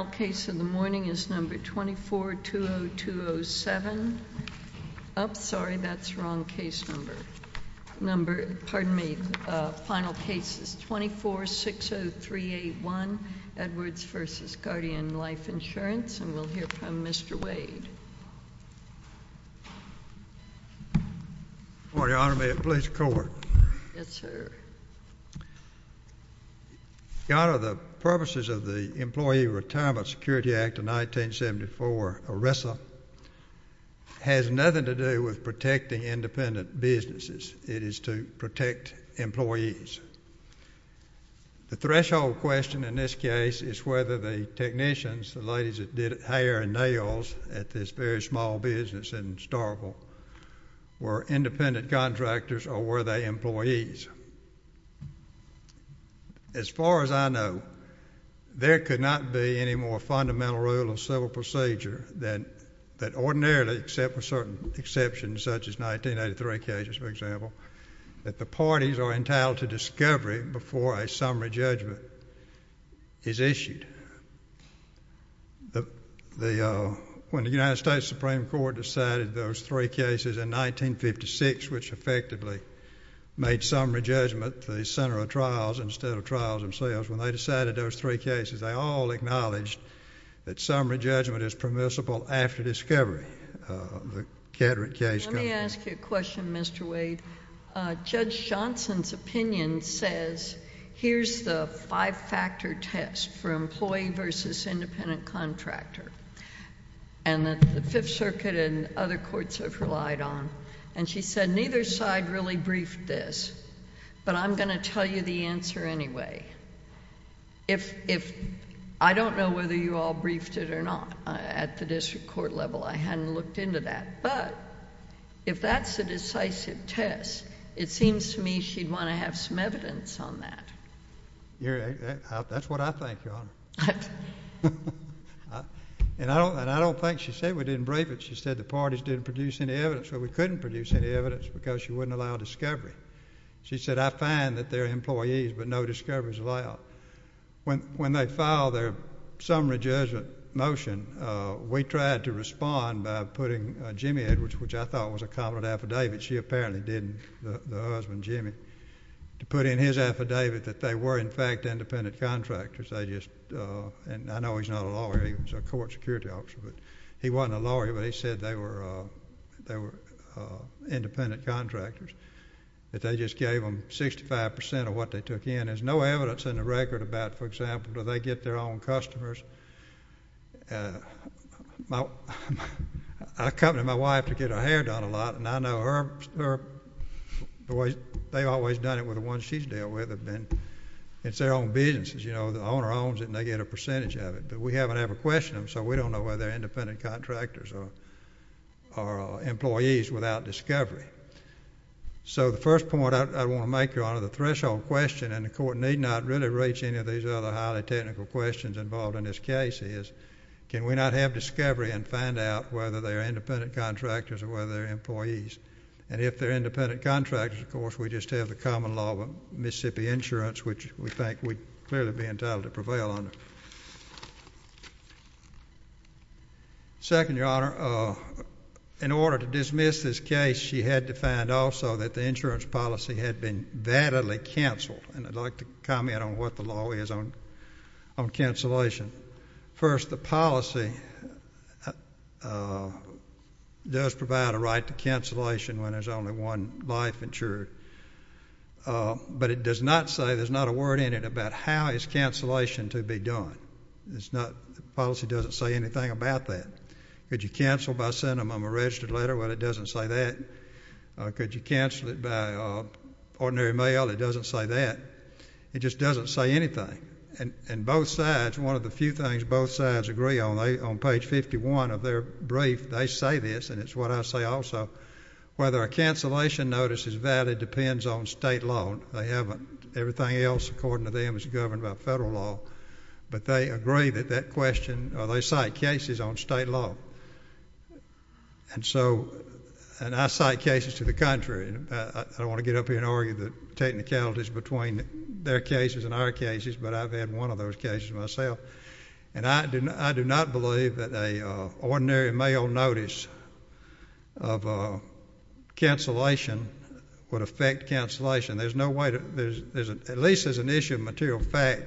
The final case of the morning is number 24-202-07, oh sorry that's the wrong case number, pardon me, final case is 24-603-81, Edwards v. Guardian Life Insurance, and we'll hear from Mr. Wade. Good morning Your Honor, may it please the Court. Yes sir. Your Honor, the purposes of the Employee Retirement Security Act of 1974, or RESSA, has nothing to do with protecting independent businesses, it is to protect employees. The threshold question in this case is whether the technicians, the ladies that did hair and nails at this very small business in Starkville, were independent contractors or were they employees. As far as I know, there could not be any more fundamental rule of civil procedure that ordinarily, except for certain exceptions such as 1983 cases for example, that the parties are entitled to discovery before a summary judgment is issued. When the United States Supreme Court decided those three cases in 1956, which effectively made summary judgment the center of trials instead of trials themselves, when they decided those three cases, they all acknowledged that summary judgment is permissible after discovery. Let me ask you a question, Mr. Wade. Judge Johnson's opinion says, here's the five-factor test for employee versus independent contractor, and that the Fifth Circuit and other courts have relied on, and she said neither side really briefed this, but I'm going to tell you the answer anyway. I don't know whether you all briefed it or not at the district court level. I hadn't looked into that, but if that's a decisive test, it seems to me she'd want to have some evidence on that. That's what I think, Your Honor, and I don't think she said we didn't brief it. She said the parties didn't produce any evidence, but we couldn't produce any evidence because she wouldn't allow discovery. She said, I find that they're employees, but no discovery is allowed. When they filed their summary judgment motion, we tried to respond by putting Jimmy Edwards, which I thought was a competent affidavit, she apparently didn't, the husband, Jimmy, to put in his affidavit that they were, in fact, independent contractors. I know he's not a lawyer. He was a court security officer, but he wasn't a lawyer, but he said they were independent contractors, that they just gave them 65% of what they took in. There's no evidence in the record about, for example, do they get their own customers. I come to my wife to get her hair done a lot, and I know they've always done it with the ones she's dealt with. It's their own business. The owner owns it, and they get a percentage of it, but we haven't ever questioned them, so we don't know whether they're independent contractors or employees without discovery. So, the first point I want to make, Your Honor, the threshold question, and the court need not really reach any of these other highly technical questions involved in this case is can we not have discovery and find out whether they're independent contractors or whether they're employees, and if they're independent contractors, of course, we just have the common law of Mississippi insurance, which we think we'd clearly be entitled to prevail under. Second, Your Honor, in order to dismiss this case, she had to find also that the insurance policy had been validly canceled, and I'd like to comment on what the law is on cancellation. First, the policy does provide a right to cancellation when there's only one life insured, but it does not say, there's not a word in it about how is cancellation to be done. The policy doesn't say anything about that. Could you cancel by sending them a registered letter? Well, it doesn't say that. Could you cancel it by ordinary mail? It doesn't say that. It just doesn't say anything, and both sides, one of the few things both sides agree on, on page 51 of their brief, they say this, and it's what I say also, whether a cancellation notice is valid depends on state law. They haven't. Everything else, according to them, is governed by federal law, but they agree that that question, or they cite cases on state law, and so, and I cite cases to the contrary. I don't want to get up here and argue the technicalities between their cases and our cases, but I've had one of those cases myself, and I do not believe that an ordinary mail notice of cancellation would affect cancellation. There's no way to, at least there's an issue of material fact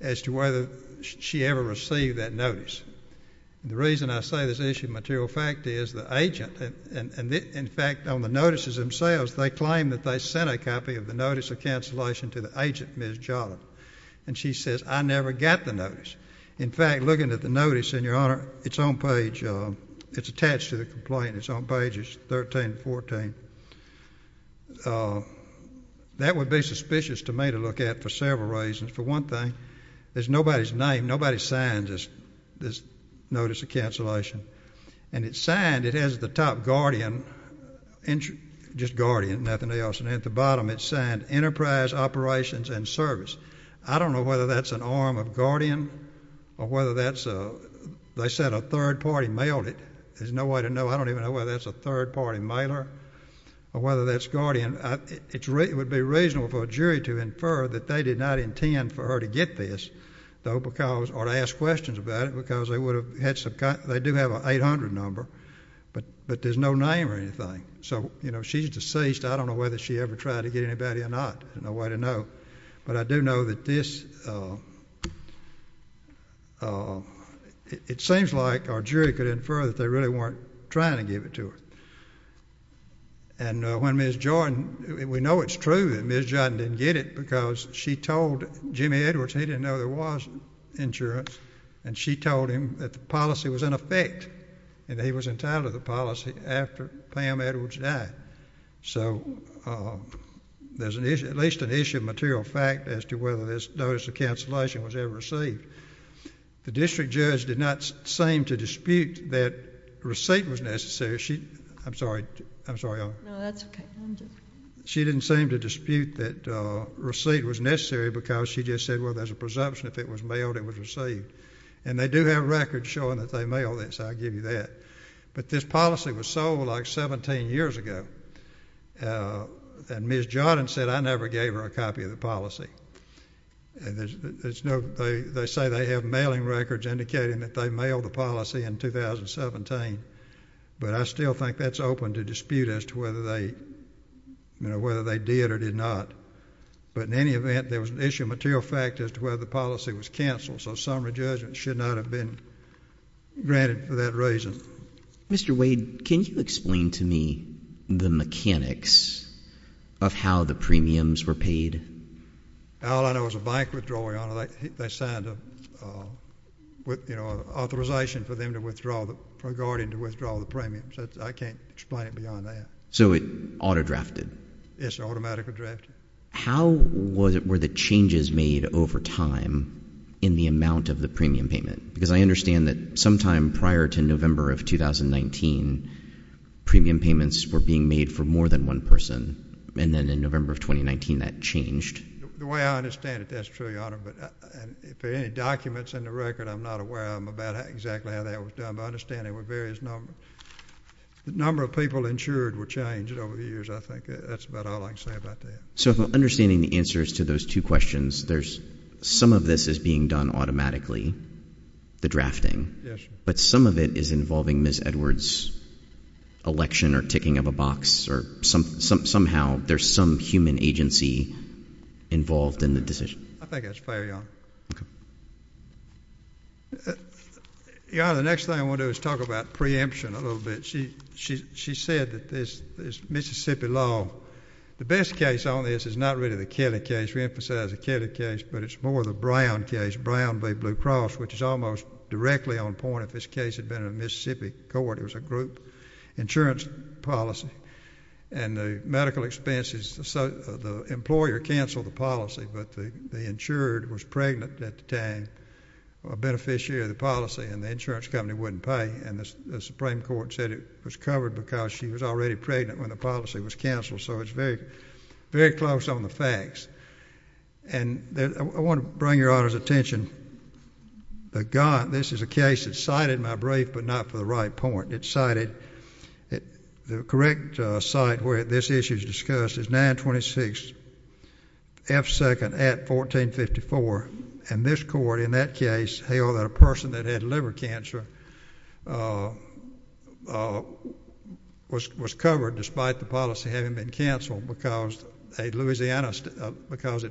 as to whether she ever received that notice, and the reason I say there's an issue of material fact is the agent, and in fact, on the notices themselves, they claim that they sent a copy of the notice of cancellation to the agent, Ms. Jolliff, and she says, I never got the notice. In fact, looking at the notice, in your honor, it's on page, it's attached to the complaint, it's on pages 13 and 14. That would be suspicious to me to look at for several reasons. For one thing, there's nobody's name, nobody signs this notice of cancellation, and it's signed, it has the top Guardian, just Guardian, nothing else, and at the bottom, it's signed Enterprise Operations and Service. I don't know whether that's an arm of Guardian, or whether that's, they said a third party mailed it, there's no way to know, I don't even know whether that's a third party mailer, or whether that's Guardian. It would be reasonable for a jury to infer that they did not intend for her to get this, or to ask questions about it, because they do have an 800 number, but there's no name or anything. So, you know, she's deceased, I don't know whether she ever tried to get anybody or not, there's no way to know. But I do know that this, it seems like our jury could infer that they really weren't trying to give it to her. And when Ms. Jordan, we know it's true that Ms. Jordan didn't get it, because she told Jimmy Edwards he didn't know there was insurance, and she told him that the policy was in effect, and he was entitled to the policy after Pam Edwards died. So, there's at least an issue of material fact as to whether this notice of cancellation was ever received. The district judge did not seem to dispute that receipt was necessary. I'm sorry, I'm sorry. No, that's okay. She didn't seem to dispute that receipt was necessary, because she just said, well, there's a presumption if it was mailed, it was received. And they do have records showing that they mailed it, so I'll give you that. But this policy was sold like 17 years ago, and Ms. Jordan said, I never gave her a copy of the policy. They say they have mailing records indicating that they mailed the policy in 2017, but I still think that's open to dispute as to whether they did or did not. But in any event, there was an issue of material fact as to whether the policy was canceled, so summary judgment should not have been granted for that reason. Mr. Wade, can you explain to me the mechanics of how the premiums were paid? All I know is a bank withdrawal, Your Honor. They signed an authorization for them to withdraw, regarding to withdraw the premiums. I can't explain it beyond that. So, it auto-drafted? Yes, it automatically drafted. How were the changes made over time in the amount of the premium payment? Because I understand that sometime prior to November of 2019, premium payments were being made for more than one person, and then in November of 2019, that changed. The way I understand it, that's true, Your Honor, but if there are any documents in the record, I'm not aware of them about exactly how that was done, but I understand there were various numbers. The number of people insured were changed over the years, I think. That's about all I can say about that. So, if I'm understanding the answers to those two questions, some of this is being done automatically, the drafting, but some of it is involving Ms. Edwards' election or ticking of a box, or somehow there's some human agency involved in the decision. I think that's fair, Your Honor. Your Honor, the next thing I want to do is talk about preemption a little bit. She said that this Mississippi law, the best case on this is not really the Kelly case. We emphasize the Kelly case, but it's more the Brown case, Brown v. Blue Cross, which is almost directly on point if this case had been in a Mississippi court. It was a group insurance policy, and the medical expenses, the employer canceled the policy, but the insured was pregnant at the time, a beneficiary of the policy, and the insurance company wouldn't pay, and the Supreme Court said it was covered because she was already pregnant when the policy was canceled, so it's very close on the facts. I want to bring Your Honor's attention. This is a case that cited my brief, but not for the right point. The correct site where this issue is discussed is 926 F. Second at 1454, and this court in that case held that a person that had liver cancer was covered despite the policy having been canceled because it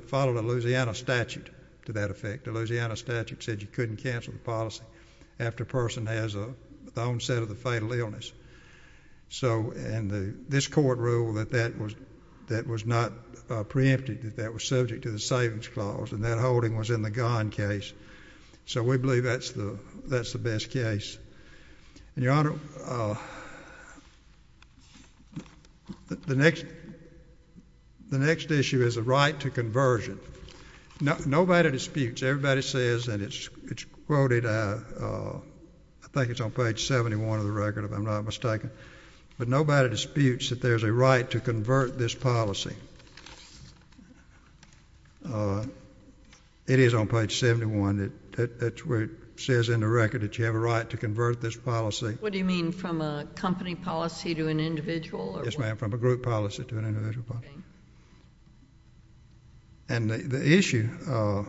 followed a Louisiana statute to that effect. The Louisiana statute said you couldn't cancel the policy after a person has the onset of the fatal illness. So this court ruled that that was not preempted, that that was subject to the savings clause, and that holding was in the Gone case, so we believe that's the best case. Your Honor, the next issue is the right to conversion. Nobody disputes, everybody says, and it's quoted, I think it's on page 71 of the record if I'm not mistaken, but nobody disputes that there's a right to convert this policy. It is on page 71. That's where it says in the record that you have a right to convert this policy. What do you mean, from a company policy to an individual? Yes, ma'am, from a group policy to an individual policy. And the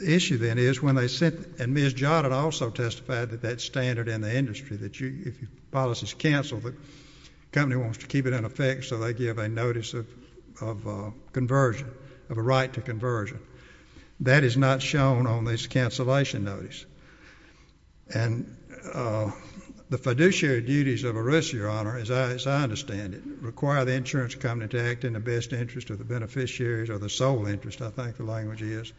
issue then is when they said, and Ms. Jodd had also testified that that standard in the industry, that if your policy is canceled, the company wants to keep it in effect, so they give a notice of conversion, of a right to conversion. That is not shown on this cancellation notice. And the fiduciary duties of a risk, Your Honor, as I understand it, require the insurance company to act in the best interest of the beneficiaries or the sole interest, I think the language is.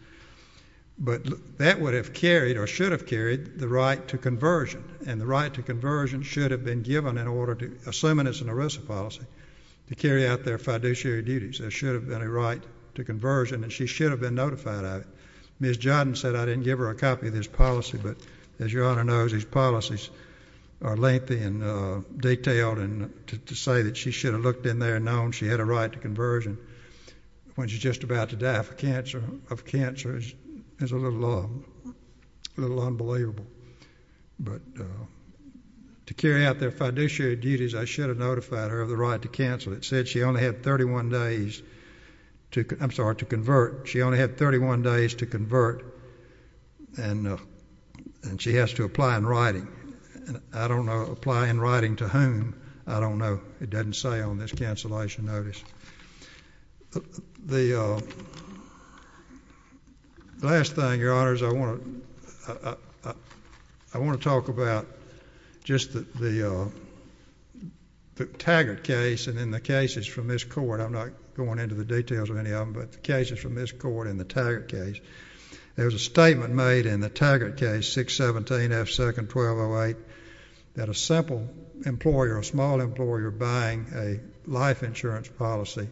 But that would have carried or should have carried the right to conversion, and the right to conversion should have been given in order to, assuming it's an ERISA policy, to carry out their fiduciary duties. There should have been a right to conversion, and she should have been notified of it. Ms. Jodd said I didn't give her a copy of this policy, but as Your Honor knows, these policies are lengthy and detailed, and to say that she should have looked in there and known she had a right to conversion when she was just about to die of cancer is a little unbelievable. But to carry out their fiduciary duties, I should have notified her of the right to cancel. It said she only had 31 days to convert, and she has to apply in writing. I don't know apply in writing to whom. I don't know. It doesn't say on this cancellation notice. The last thing, Your Honors, I want to talk about just the Taggart case and then the cases from this court. I'm not going into the details of any of them, but the cases from this court and the Taggart case. There was a statement made in the Taggart case, 617 F. Second 1208, that a simple employer, a small employer buying a life insurance policy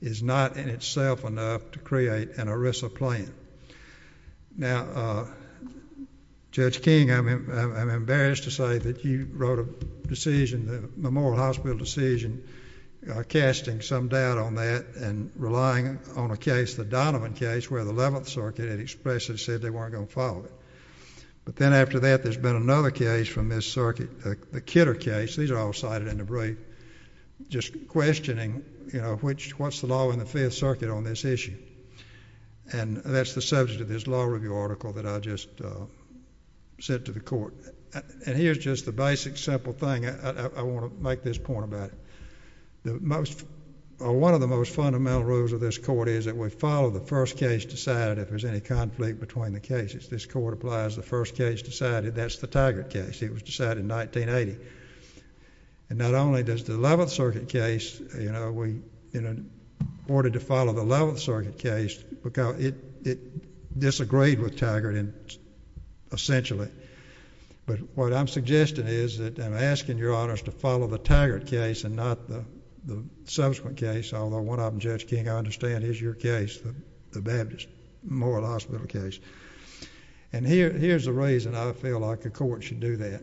is not in itself enough to create an ERISA plan. Now, Judge King, I'm embarrassed to say that you wrote a decision, the Memorial Hospital decision, casting some doubt on that and relying on a case, the Donovan case, where the Eleventh Circuit had expressed and said they weren't going to follow it. But then after that, there's been another case from this circuit, the Kidder case. These are all cited in the brief, just questioning, you know, what's the law in the Fifth Circuit on this issue? And that's the subject of this law review article that I just sent to the court. And here's just the basic, simple thing. I want to make this point about it. One of the most fundamental rules of this court is that we follow the first case decided if there's any conflict between the cases. This court applies the first case decided. That's the Taggart case. It was decided in 1980. And not only does the Eleventh Circuit case, you know, we ordered to follow the Eleventh Circuit case because it disagreed with Taggart, essentially. But what I'm suggesting is that I'm asking your honors to follow the Taggart case and not the subsequent case, although one of them, Judge King, I understand is your case, the Baptist Memorial Hospital case. And here's the reason I feel like the court should do that.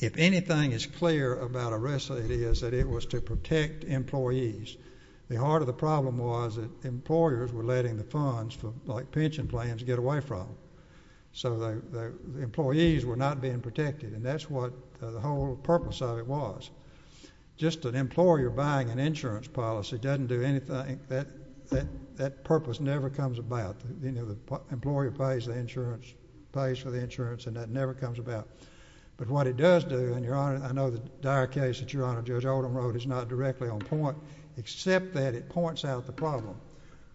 If anything is clear about arrest, it is that it was to protect employees. The heart of the problem was that employers were letting the funds, like pension plans, get away from them. So the employees were not being protected, and that's what the whole purpose of it was. Just an employer buying an insurance policy doesn't do anything. That purpose never comes about. The employer pays for the insurance, and that never comes about. But what it does do, and your honor, I know the dire case that your honor Judge Oldham wrote is not directly on point, except that it points out the problem,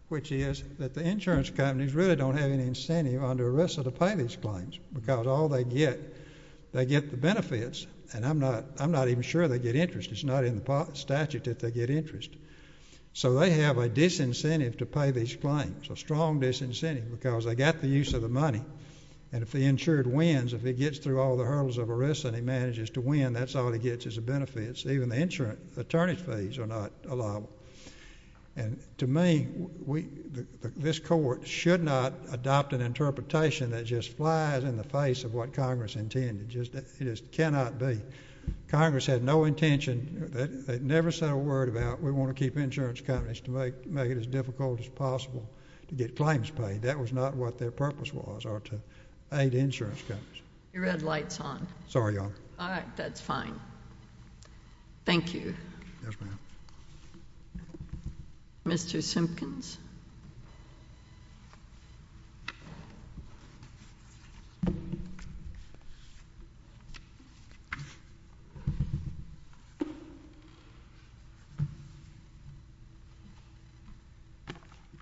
which is that the insurance companies really don't have any incentive under arrest to pay these claims because all they get, they get the benefits, and I'm not even sure they get interest. It's not in the statute that they get interest. So they have a disincentive to pay these claims, a strong disincentive, because they got the use of the money. And if the insured wins, if he gets through all the hurdles of arrest and he manages to win, that's all he gets is the benefits. Even the insurance attorney fees are not allowable. And to me, this court should not adopt an interpretation that just flies in the face of what Congress intended. It just cannot be. Congress had no intention. They never said a word about we want to keep insurance companies to make it as difficult as possible to get claims paid. That was not what their purpose was, or to aid insurance companies. Your red light's on. Sorry, Your Honor. All right, that's fine. Thank you. Yes, ma'am. Mr. Simpkins.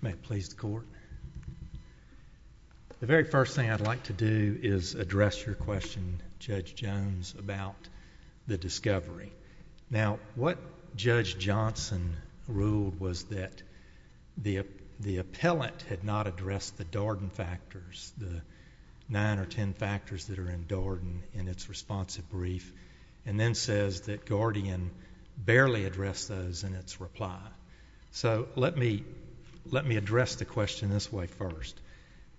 May it please the Court. The very first thing I'd like to do is address your question, Judge Jones, about the discovery. Now, what Judge Johnson ruled was that the appellate had not addressed the Darden factors, the nine or ten factors that are in Darden in its responsive brief, and then says that Guardian barely addressed those in its reply. So let me address the question this way first.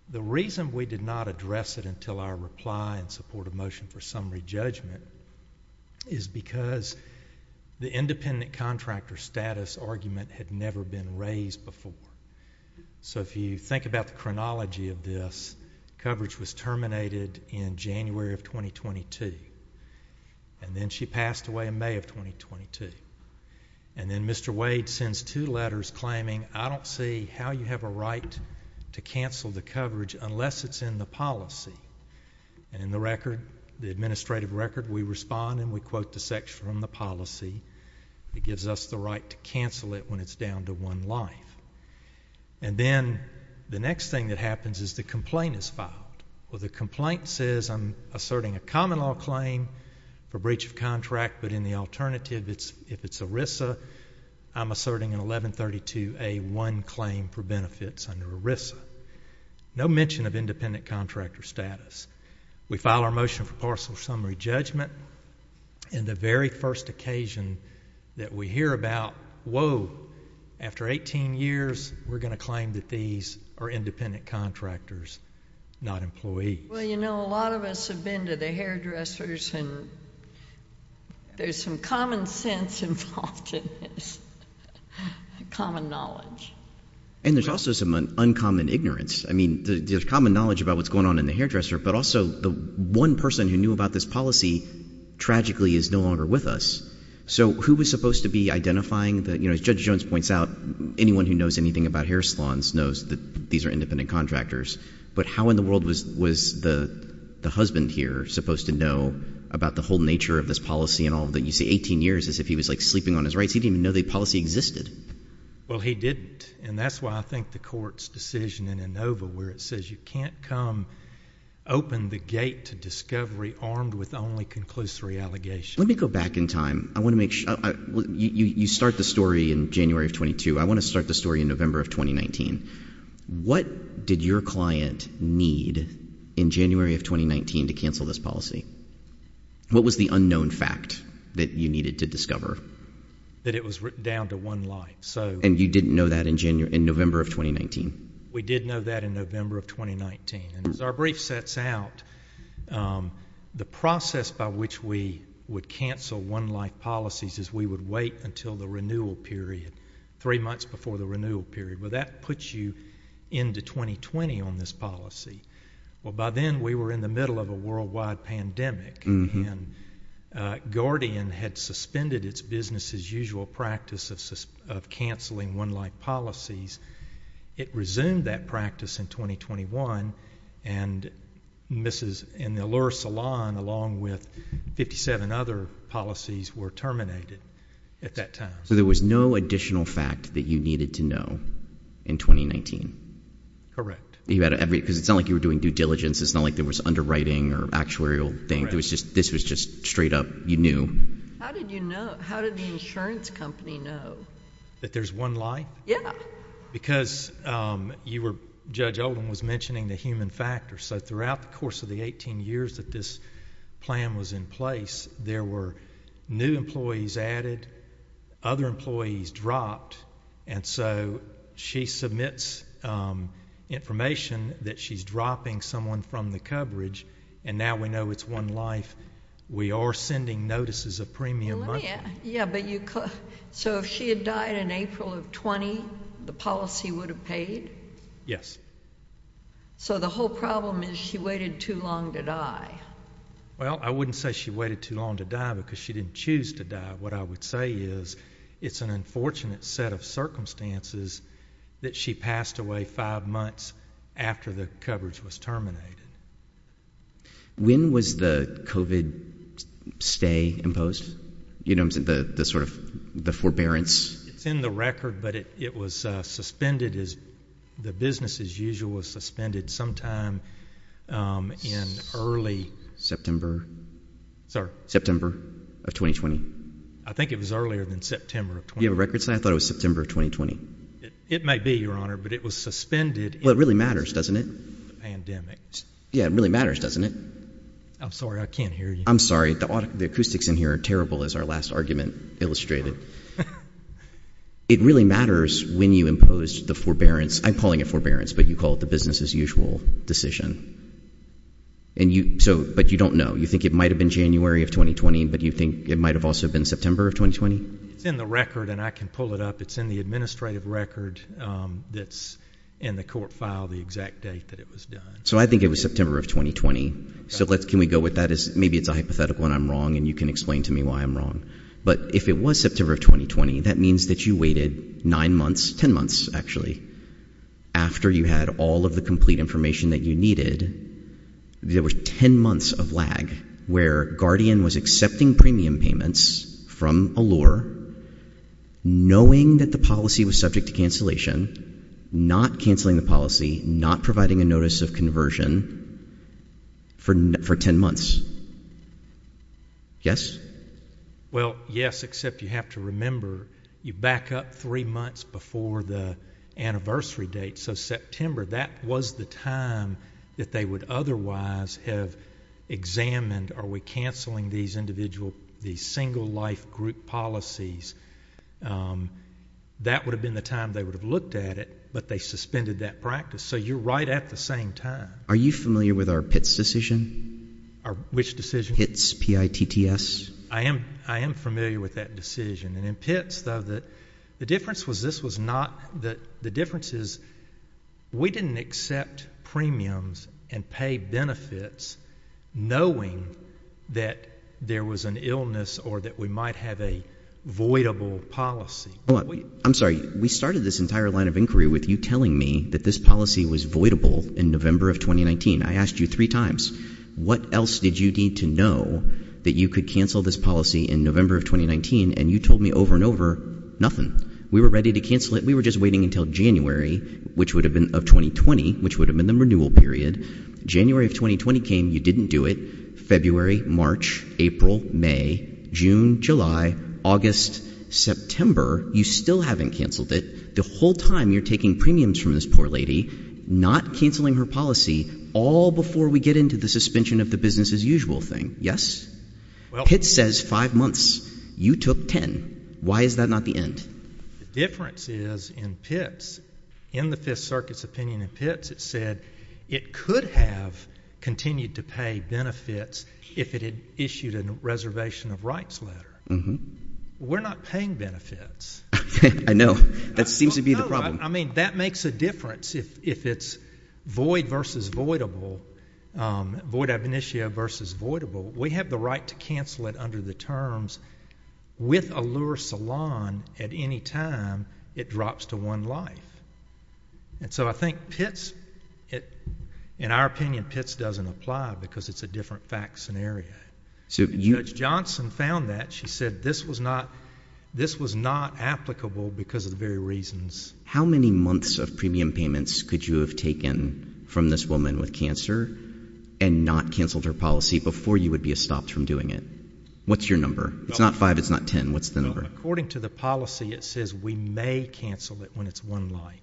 The reason we did not address it until our reply in support of motion for summary judgment is because the independent contractor status argument had never been raised before. So if you think about the chronology of this, coverage was terminated in January of 2022, and then she passed away in May of 2022. And then Mr. Wade sends two letters claiming, I don't see how you have a right to cancel the coverage unless it's in the policy. And in the record, the administrative record, we respond and we quote the section on the policy that gives us the right to cancel it when it's down to one life. And then the next thing that happens is the complaint is filed. Well, the complaint says I'm asserting a common law claim for breach of contract, but in the alternative, if it's ERISA, I'm asserting an 1132A1 claim for benefits under ERISA. No mention of independent contractor status. We file our motion for partial summary judgment, and the very first occasion that we hear about, whoa, after 18 years, we're going to claim that these are independent contractors, not employees. Well, you know, a lot of us have been to the hairdressers, and there's some common sense involved in this, common knowledge. And there's also some uncommon ignorance. I mean, there's common knowledge about what's going on in the hairdresser, but also the one person who knew about this policy tragically is no longer with us. So who was supposed to be identifying that? As Judge Jones points out, anyone who knows anything about hair salons knows that these are independent contractors. But how in the world was the husband here supposed to know about the whole nature of this policy and all of the, you see, 18 years as if he was, like, sleeping on his rights? He didn't even know the policy existed. Well, he didn't, and that's why I think the court's decision in ANOVA where it says you can't come open the gate to discovery armed with only conclusory allegations. Let me go back in time. I want to make sure. You start the story in January of 22. I want to start the story in November of 2019. What did your client need in January of 2019 to cancel this policy? What was the unknown fact that you needed to discover? That it was down to one life. And you didn't know that in November of 2019? We did know that in November of 2019. And as our brief sets out, the process by which we would cancel one-life policies is we would wait until the renewal period, three months before the renewal period. Well, that puts you into 2020 on this policy. Well, by then, we were in the middle of a worldwide pandemic. And Guardian had suspended its business-as-usual practice of canceling one-life policies. It resumed that practice in 2021. And Mrs. and the Allure salon, along with 57 other policies, were terminated at that time. So there was no additional fact that you needed to know in 2019? Correct. Because it's not like you were doing due diligence. It's not like there was underwriting or actuarial thing. This was just straight up you knew. How did you know? How did the insurance company know? That there's one life? Yeah. Because Judge Oldham was mentioning the human factor. So throughout the course of the 18 years that this plan was in place, there were new employees added, other employees dropped. And so she submits information that she's dropping someone from the coverage. And now we know it's one life. We are sending notices of premium monthly. Yeah, but you could. So if she had died in April of 20, the policy would have paid? Yes. So the whole problem is she waited too long to die. Well, I wouldn't say she waited too long to die, because she didn't choose to die. What I would say is it's an unfortunate set of circumstances that she passed away five months after the coverage was terminated. When was the COVID stay imposed? You know, the sort of the forbearance? It's in the record, but it was suspended. The business as usual was suspended sometime in early September. Sorry? September of 2020. I think it was earlier than September of 2020. You have a record set? I thought it was September of 2020. It may be, Your Honor, but it was suspended. Well, it really matters, doesn't it? Pandemic. Yeah, it really matters, doesn't it? I'm sorry, I can't hear you. I'm sorry. The acoustics in here are terrible, as our last argument illustrated. It really matters when you impose the forbearance. I'm calling it forbearance, but you call it the business as usual decision. But you don't know. You think it might have been January of 2020, but you think it might have also been September of 2020? It's in the record, and I can pull it up. It's in the administrative record that's in the court file, the exact date that it was done. So I think it was September of 2020. Can we go with that? Maybe it's a hypothetical and I'm wrong, and you can explain to me why I'm wrong. But if it was September of 2020, that means that you waited nine months, ten months, actually, after you had all of the complete information that you needed. There was ten months of lag, where Guardian was accepting premium payments from Allure, knowing that the policy was subject to cancellation, not canceling the policy, not providing a notice of conversion for ten months. Yes? Well, yes, except you have to remember, you back up three months before the anniversary date. So September, that was the time that they would otherwise have examined, are we canceling these individual, these single-life group policies? That would have been the time they would have looked at it, but they suspended that practice. So you're right at the same time. Are you familiar with our PITS decision? Which decision? PITS, P-I-T-T-S? I am familiar with that decision. And in PITS, though, the difference was this was not the differences. We didn't accept premiums and pay benefits knowing that there was an illness or that we might have a voidable policy. I'm sorry. We started this entire line of inquiry with you telling me that this policy was voidable in November of 2019. I asked you three times. What else did you need to know that you could cancel this policy in November of 2019? And you told me over and over nothing. We were ready to cancel it. We were just waiting until January, which would have been of 2020, which would have been the renewal period. January of 2020 came. You didn't do it. February, March, April, May, June, July, August, September, you still haven't canceled it. The whole time you're taking premiums from this poor lady, not canceling her policy, all before we get into the suspension of the business-as-usual thing. Yes? PITS says five months. You took ten. Why is that not the end? The difference is in PITS, in the Fifth Circuit's opinion in PITS, it said it could have continued to pay benefits if it had issued a reservation of rights letter. We're not paying benefits. I know. That seems to be the problem. I mean, that makes a difference if it's void versus voidable, void ab initio versus voidable. We have the right to cancel it under the terms with a lure salon at any time it drops to one life. And so I think PITS, in our opinion, PITS doesn't apply because it's a different facts scenario. Judge Johnson found that. She said this was not applicable because of the very reasons. How many months of premium payments could you have taken from this woman with cancer and not canceled her policy before you would be stopped from doing it? What's your number? It's not five, it's not ten. What's the number? According to the policy, it says we may cancel it when it's one life.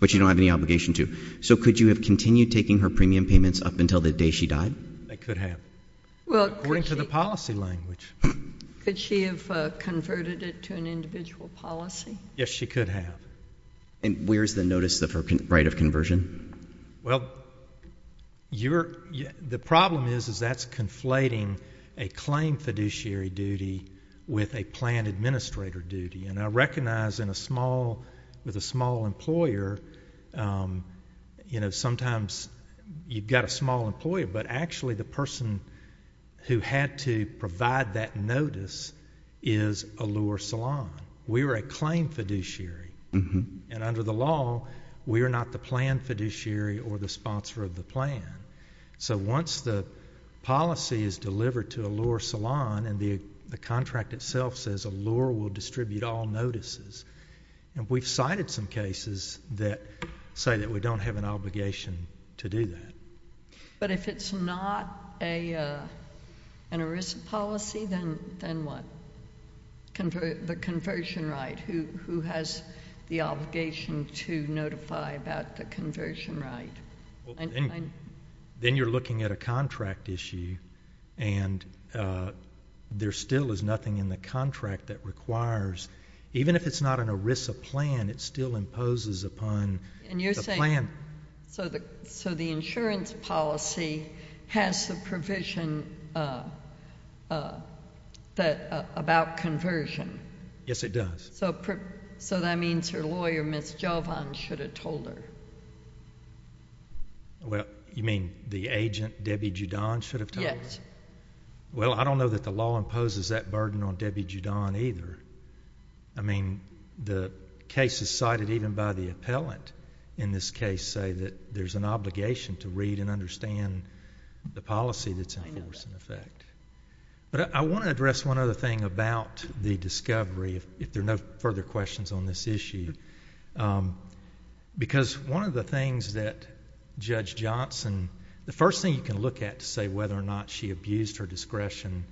But you don't have any obligation to. So could you have continued taking her premium payments up until the day she died? I could have, according to the policy language. Could she have converted it to an individual policy? Yes, she could have. And where's the notice of her right of conversion? Well, the problem is that's conflating a claim fiduciary duty with a planned administrator duty. And I recognize with a small employer, sometimes you've got a small employer, but actually the person who had to provide that notice is a lure salon. We were a claim fiduciary. And under the law, we are not the planned fiduciary or the sponsor of the plan. So once the policy is delivered to a lure salon and the contract itself says a lure will distribute all notices, we've cited some cases that say that we don't have an obligation to do that. But if it's not an ERISA policy, then what? The conversion right. Who has the obligation to notify about the conversion right? Then you're looking at a contract issue, and there still is nothing in the contract that requires, even if it's not an ERISA plan, it still imposes upon the plan. So the insurance policy has the provision about conversion. Yes, it does. So that means your lawyer, Ms. Jovan, should have told her. You mean the agent, Debbie Judon, should have told her? Yes. Well, I don't know that the law imposes that burden on Debbie Judon either. I mean, the cases cited even by the appellant in this case say that there's an obligation to read and understand the policy that's in force and effect. But I want to address one other thing about the discovery, if there are no further questions on this issue, because one of the things that Judge Johnson... The first thing you can look at to say whether or not she abused her discretion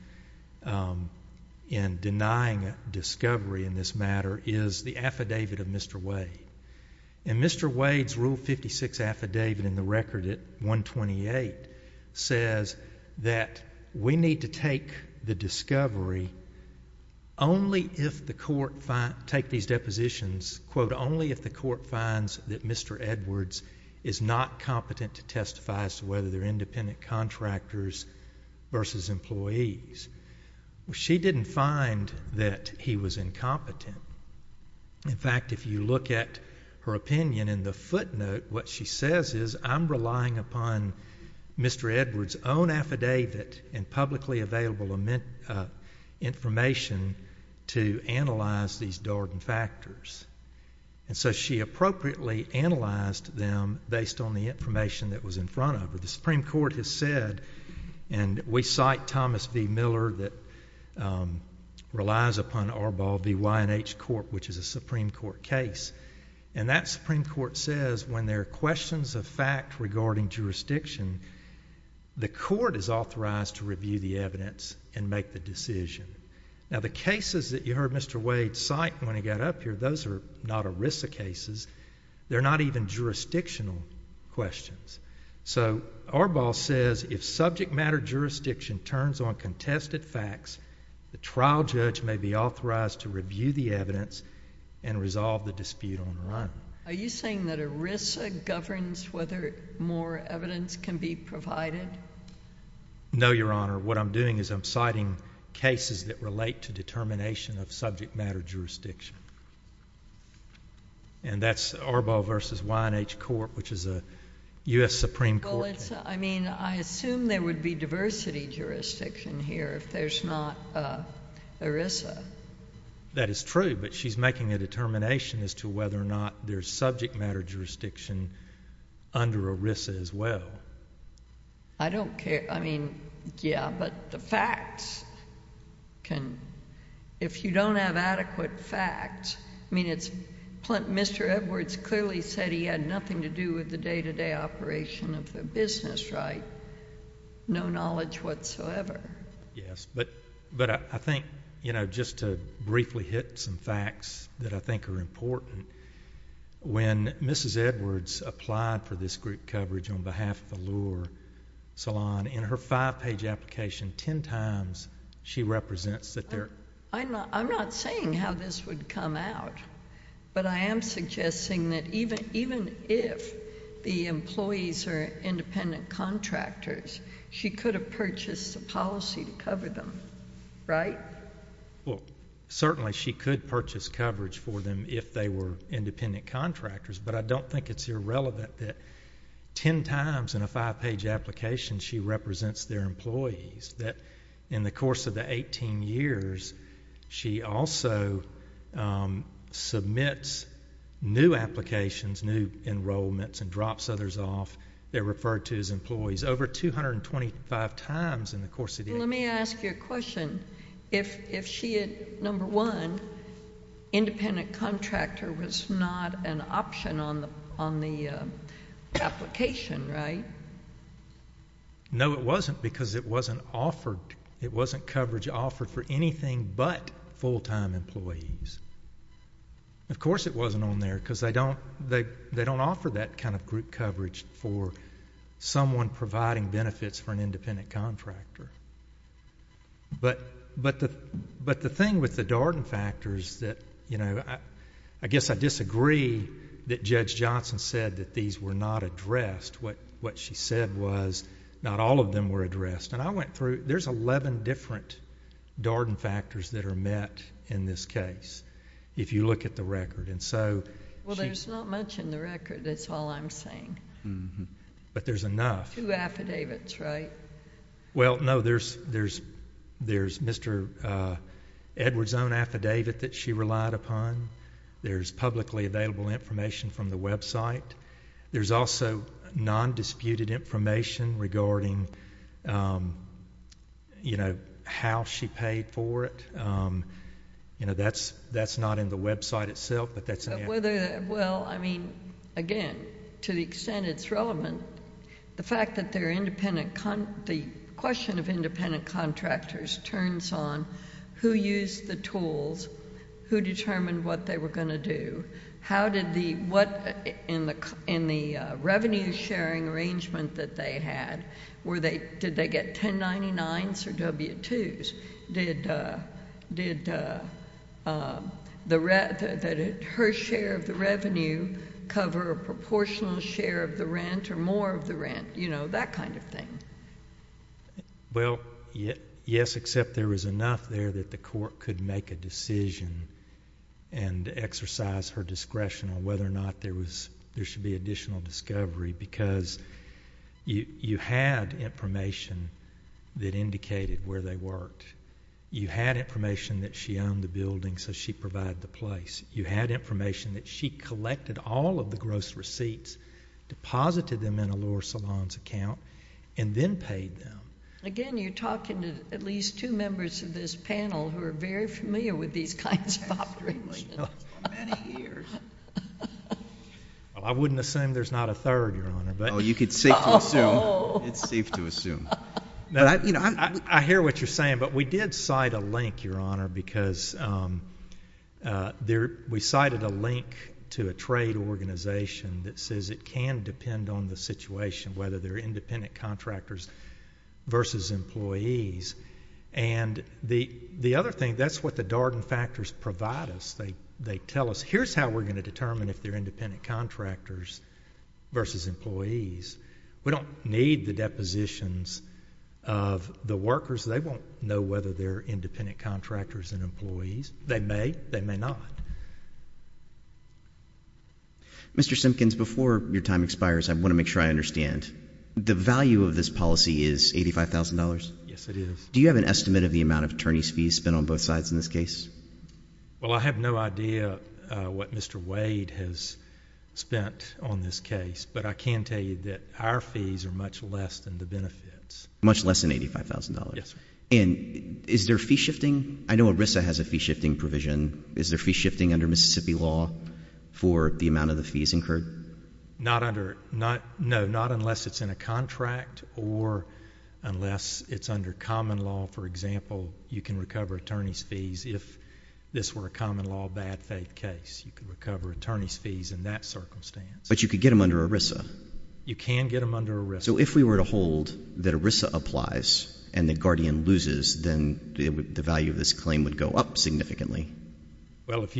in denying a discovery in this matter is the affidavit of Mr. Wade. And Mr. Wade's Rule 56 affidavit in the record at 128 says that we need to take the discovery only if the court finds... take these depositions, quote, only if the court finds that Mr. Edwards is not competent to testify as to whether they're independent contractors versus employees. Well, she didn't find that he was incompetent. In fact, if you look at her opinion in the footnote, what she says is, I'm relying upon Mr. Edwards' own affidavit and publicly available information to analyze these dark factors. And so she appropriately analyzed them based on the information that was in front of her. The Supreme Court has said... And we cite Thomas V. Miller that relies upon Arbol v. YNH Court, which is a Supreme Court case. And that Supreme Court says when there are questions of fact regarding jurisdiction, the court is authorized to review the evidence and make the decision. Now the cases that you heard Mr. Wade cite when he got up here, those are not ERISA cases. They're not even jurisdictional questions. So Arbol says if subject matter jurisdiction turns on contested facts, the trial judge may be authorized to review the evidence and resolve the dispute on the run. Are you saying that ERISA governs whether more evidence can be provided? No, Your Honor. What I'm doing is I'm citing cases that relate to determination of subject matter jurisdiction. And that's Arbol v. YNH Court, which is a U.S. Supreme Court case. I mean, I assume there would be diversity jurisdiction here if there's not ERISA. That is true, but she's making a determination as to whether or not there's subject matter jurisdiction under ERISA as well. I don't care. I mean, yeah, but the facts can, if you don't have adequate facts, I mean it's, Mr. Edwards clearly said he had nothing to do with the day-to-day operation of the business right. No knowledge whatsoever. Yes, but I think, you know, just to briefly hit some facts that I think are important, when Mrs. Edwards applied for this group coverage on behalf of Allure Salon, in her five-page application, ten times she represents that there... I'm not saying how this would come out, but I am suggesting that even if the employees are independent contractors, she could have purchased the policy to cover them, right? Well, certainly she could purchase coverage for them if they were independent contractors, but I don't think it's irrelevant that ten times in a five-page application she represents their employees, that in the course of the 18 years she also submits new applications, new enrollments, and drops others off. They're referred to as employees over 225 times in the course of the... Let me ask you a question. If she had, number one, independent contractor was not an option on the application, right? No, it wasn't, because it wasn't offered. It wasn't coverage offered for anything but full-time employees. Of course it wasn't on there, because they don't offer that kind of group coverage for someone providing benefits for an independent contractor. But the thing with the Darden factors that... I guess I disagree that Judge Johnson said that these were not addressed. What she said was not all of them were addressed. And I went through... There's 11 different Darden factors that are met in this case, if you look at the record. Well, there's not much in the record, that's all I'm saying. But there's enough. Two affidavits, right? Well, no, there's Mr. Edwards' own affidavit that she relied upon. There's publicly available information from the website. There's also non-disputed information regarding how she paid for it. That's not in the website itself, but that's... Well, I mean, again, to the extent it's relevant, the fact that they're independent... The question of independent contractors turns on who used the tools, who determined what they were going to do, how did the... in the revenue-sharing arrangement that they had, did they get 1099s or W-2s? Did her share of the revenue cover a proportional share of the rent or more of the rent? You know, that kind of thing. Well, yes, except there was enough there that the court could make a decision and exercise her discretion on whether or not there should be additional discovery, because you had information that indicated where they worked. You had information that she owned the building, so she provided the place. You had information that she collected all of the gross receipts, deposited them in Allure Salon's account, and then paid them. Again, you're talking to at least two members of this panel who are very familiar with these kinds of operations for many years. Well, I wouldn't assume there's not a third, Your Honor. Oh, you could safely assume. It's safe to assume. I hear what you're saying, but we did cite a link, Your Honor, because we cited a link to a trade organization that says it can depend on the situation, whether they're independent contractors versus employees. And the other thing, that's what the Darden factors provide us. They tell us, here's how we're going to determine if they're independent contractors versus employees. We don't need the depositions of the workers. They won't know whether they're independent contractors and employees. They may. They may not. Mr. Simpkins, before your time expires, I want to make sure I understand. The value of this policy is $85,000? Yes, it is. Do you have an estimate of the amount of attorney's fees spent on both sides in this case? Well, I have no idea what Mr. Wade has spent on this case, but I can tell you that our fees are much less than the benefits. Much less than $85,000? Yes, sir. And is there fee shifting? I know ERISA has a fee shifting provision. Is there fee shifting under Mississippi law for the amount of the fees incurred? No, not unless it's in a contract or unless it's under common law. For example, you can recover attorney's fees if this were a common law bad faith case. You could recover attorney's fees in that circumstance. But you could get them under ERISA? You can get them under ERISA. So if we were to hold that ERISA applies and that Guardian loses, then the value of this claim would go up significantly? Well, it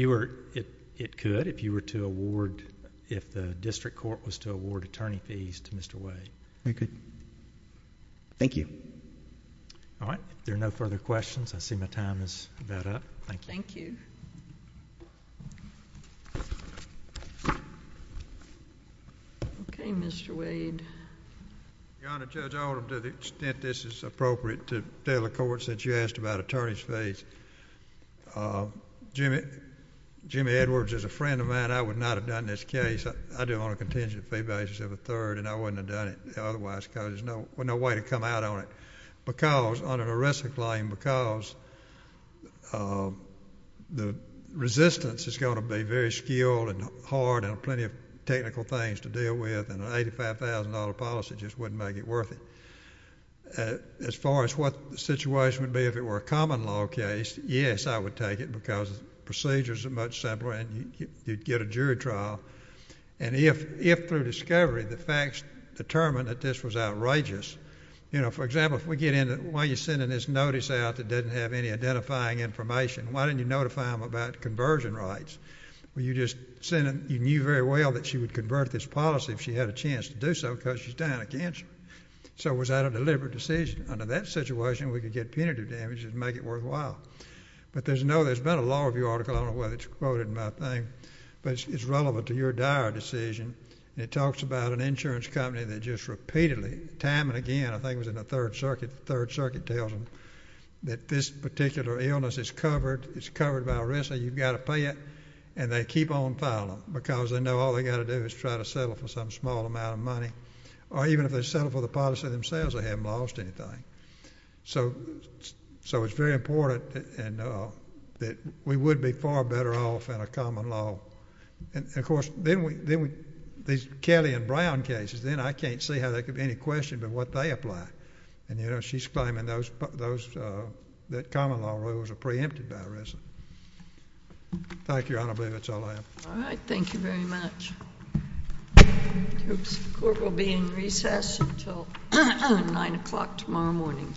could if the district court was to award attorney fees to Mr. Wade. Very good. Thank you. All right. If there are no further questions, I see my time is about up. Thank you. Okay, Mr. Wade. Your Honor, Judge Alderman, to the extent this is appropriate to tell the court, since you asked about attorney's fees, Jimmy Edwards is a friend of mine. I would not have done this case. I do it on a contingent fee basis of a third, and I wouldn't have done it otherwise because there's no way to come out on it under an ERISA claim because the resistance is going to be very skilled and hard and plenty of technical things to deal with, and an $85,000 policy just wouldn't make it worth it. As far as what the situation would be if it were a common law case, yes, I would take it because the procedures are much simpler and you'd get a jury trial. And if through discovery the facts determine that this was outrageous, you know, for example, if we get into why you're sending this notice out that doesn't have any identifying information, why didn't you notify them about conversion rights? You knew very well that she would convert this policy if she had a chance to do so because she's dying of cancer. So was that a deliberate decision? Under that situation, we could get punitive damages and make it worthwhile. But there's been a law review article, I don't know whether it's quoted in my thing, but it's relevant to your dire decision. It talks about an insurance company that just repeatedly, time and again, I think it was in the 3rd Circuit, the 3rd Circuit tells them that this particular illness is covered by ERISA, you've got to pay it, and they keep on filing because they know all they've got to do is try to settle for some small amount of money. Or even if they settle for the policy themselves, they haven't lost anything. So it's very important that we would be far better off in a common law. And, of course, these Kelly and Brown cases, then I can't see how there could be any question but what they apply. She's claiming that common law rules are preempted by ERISA. Thank you, Your Honor. I believe that's all I have. All right. Thank you very much. The Court will be in recess until 9 o'clock tomorrow morning.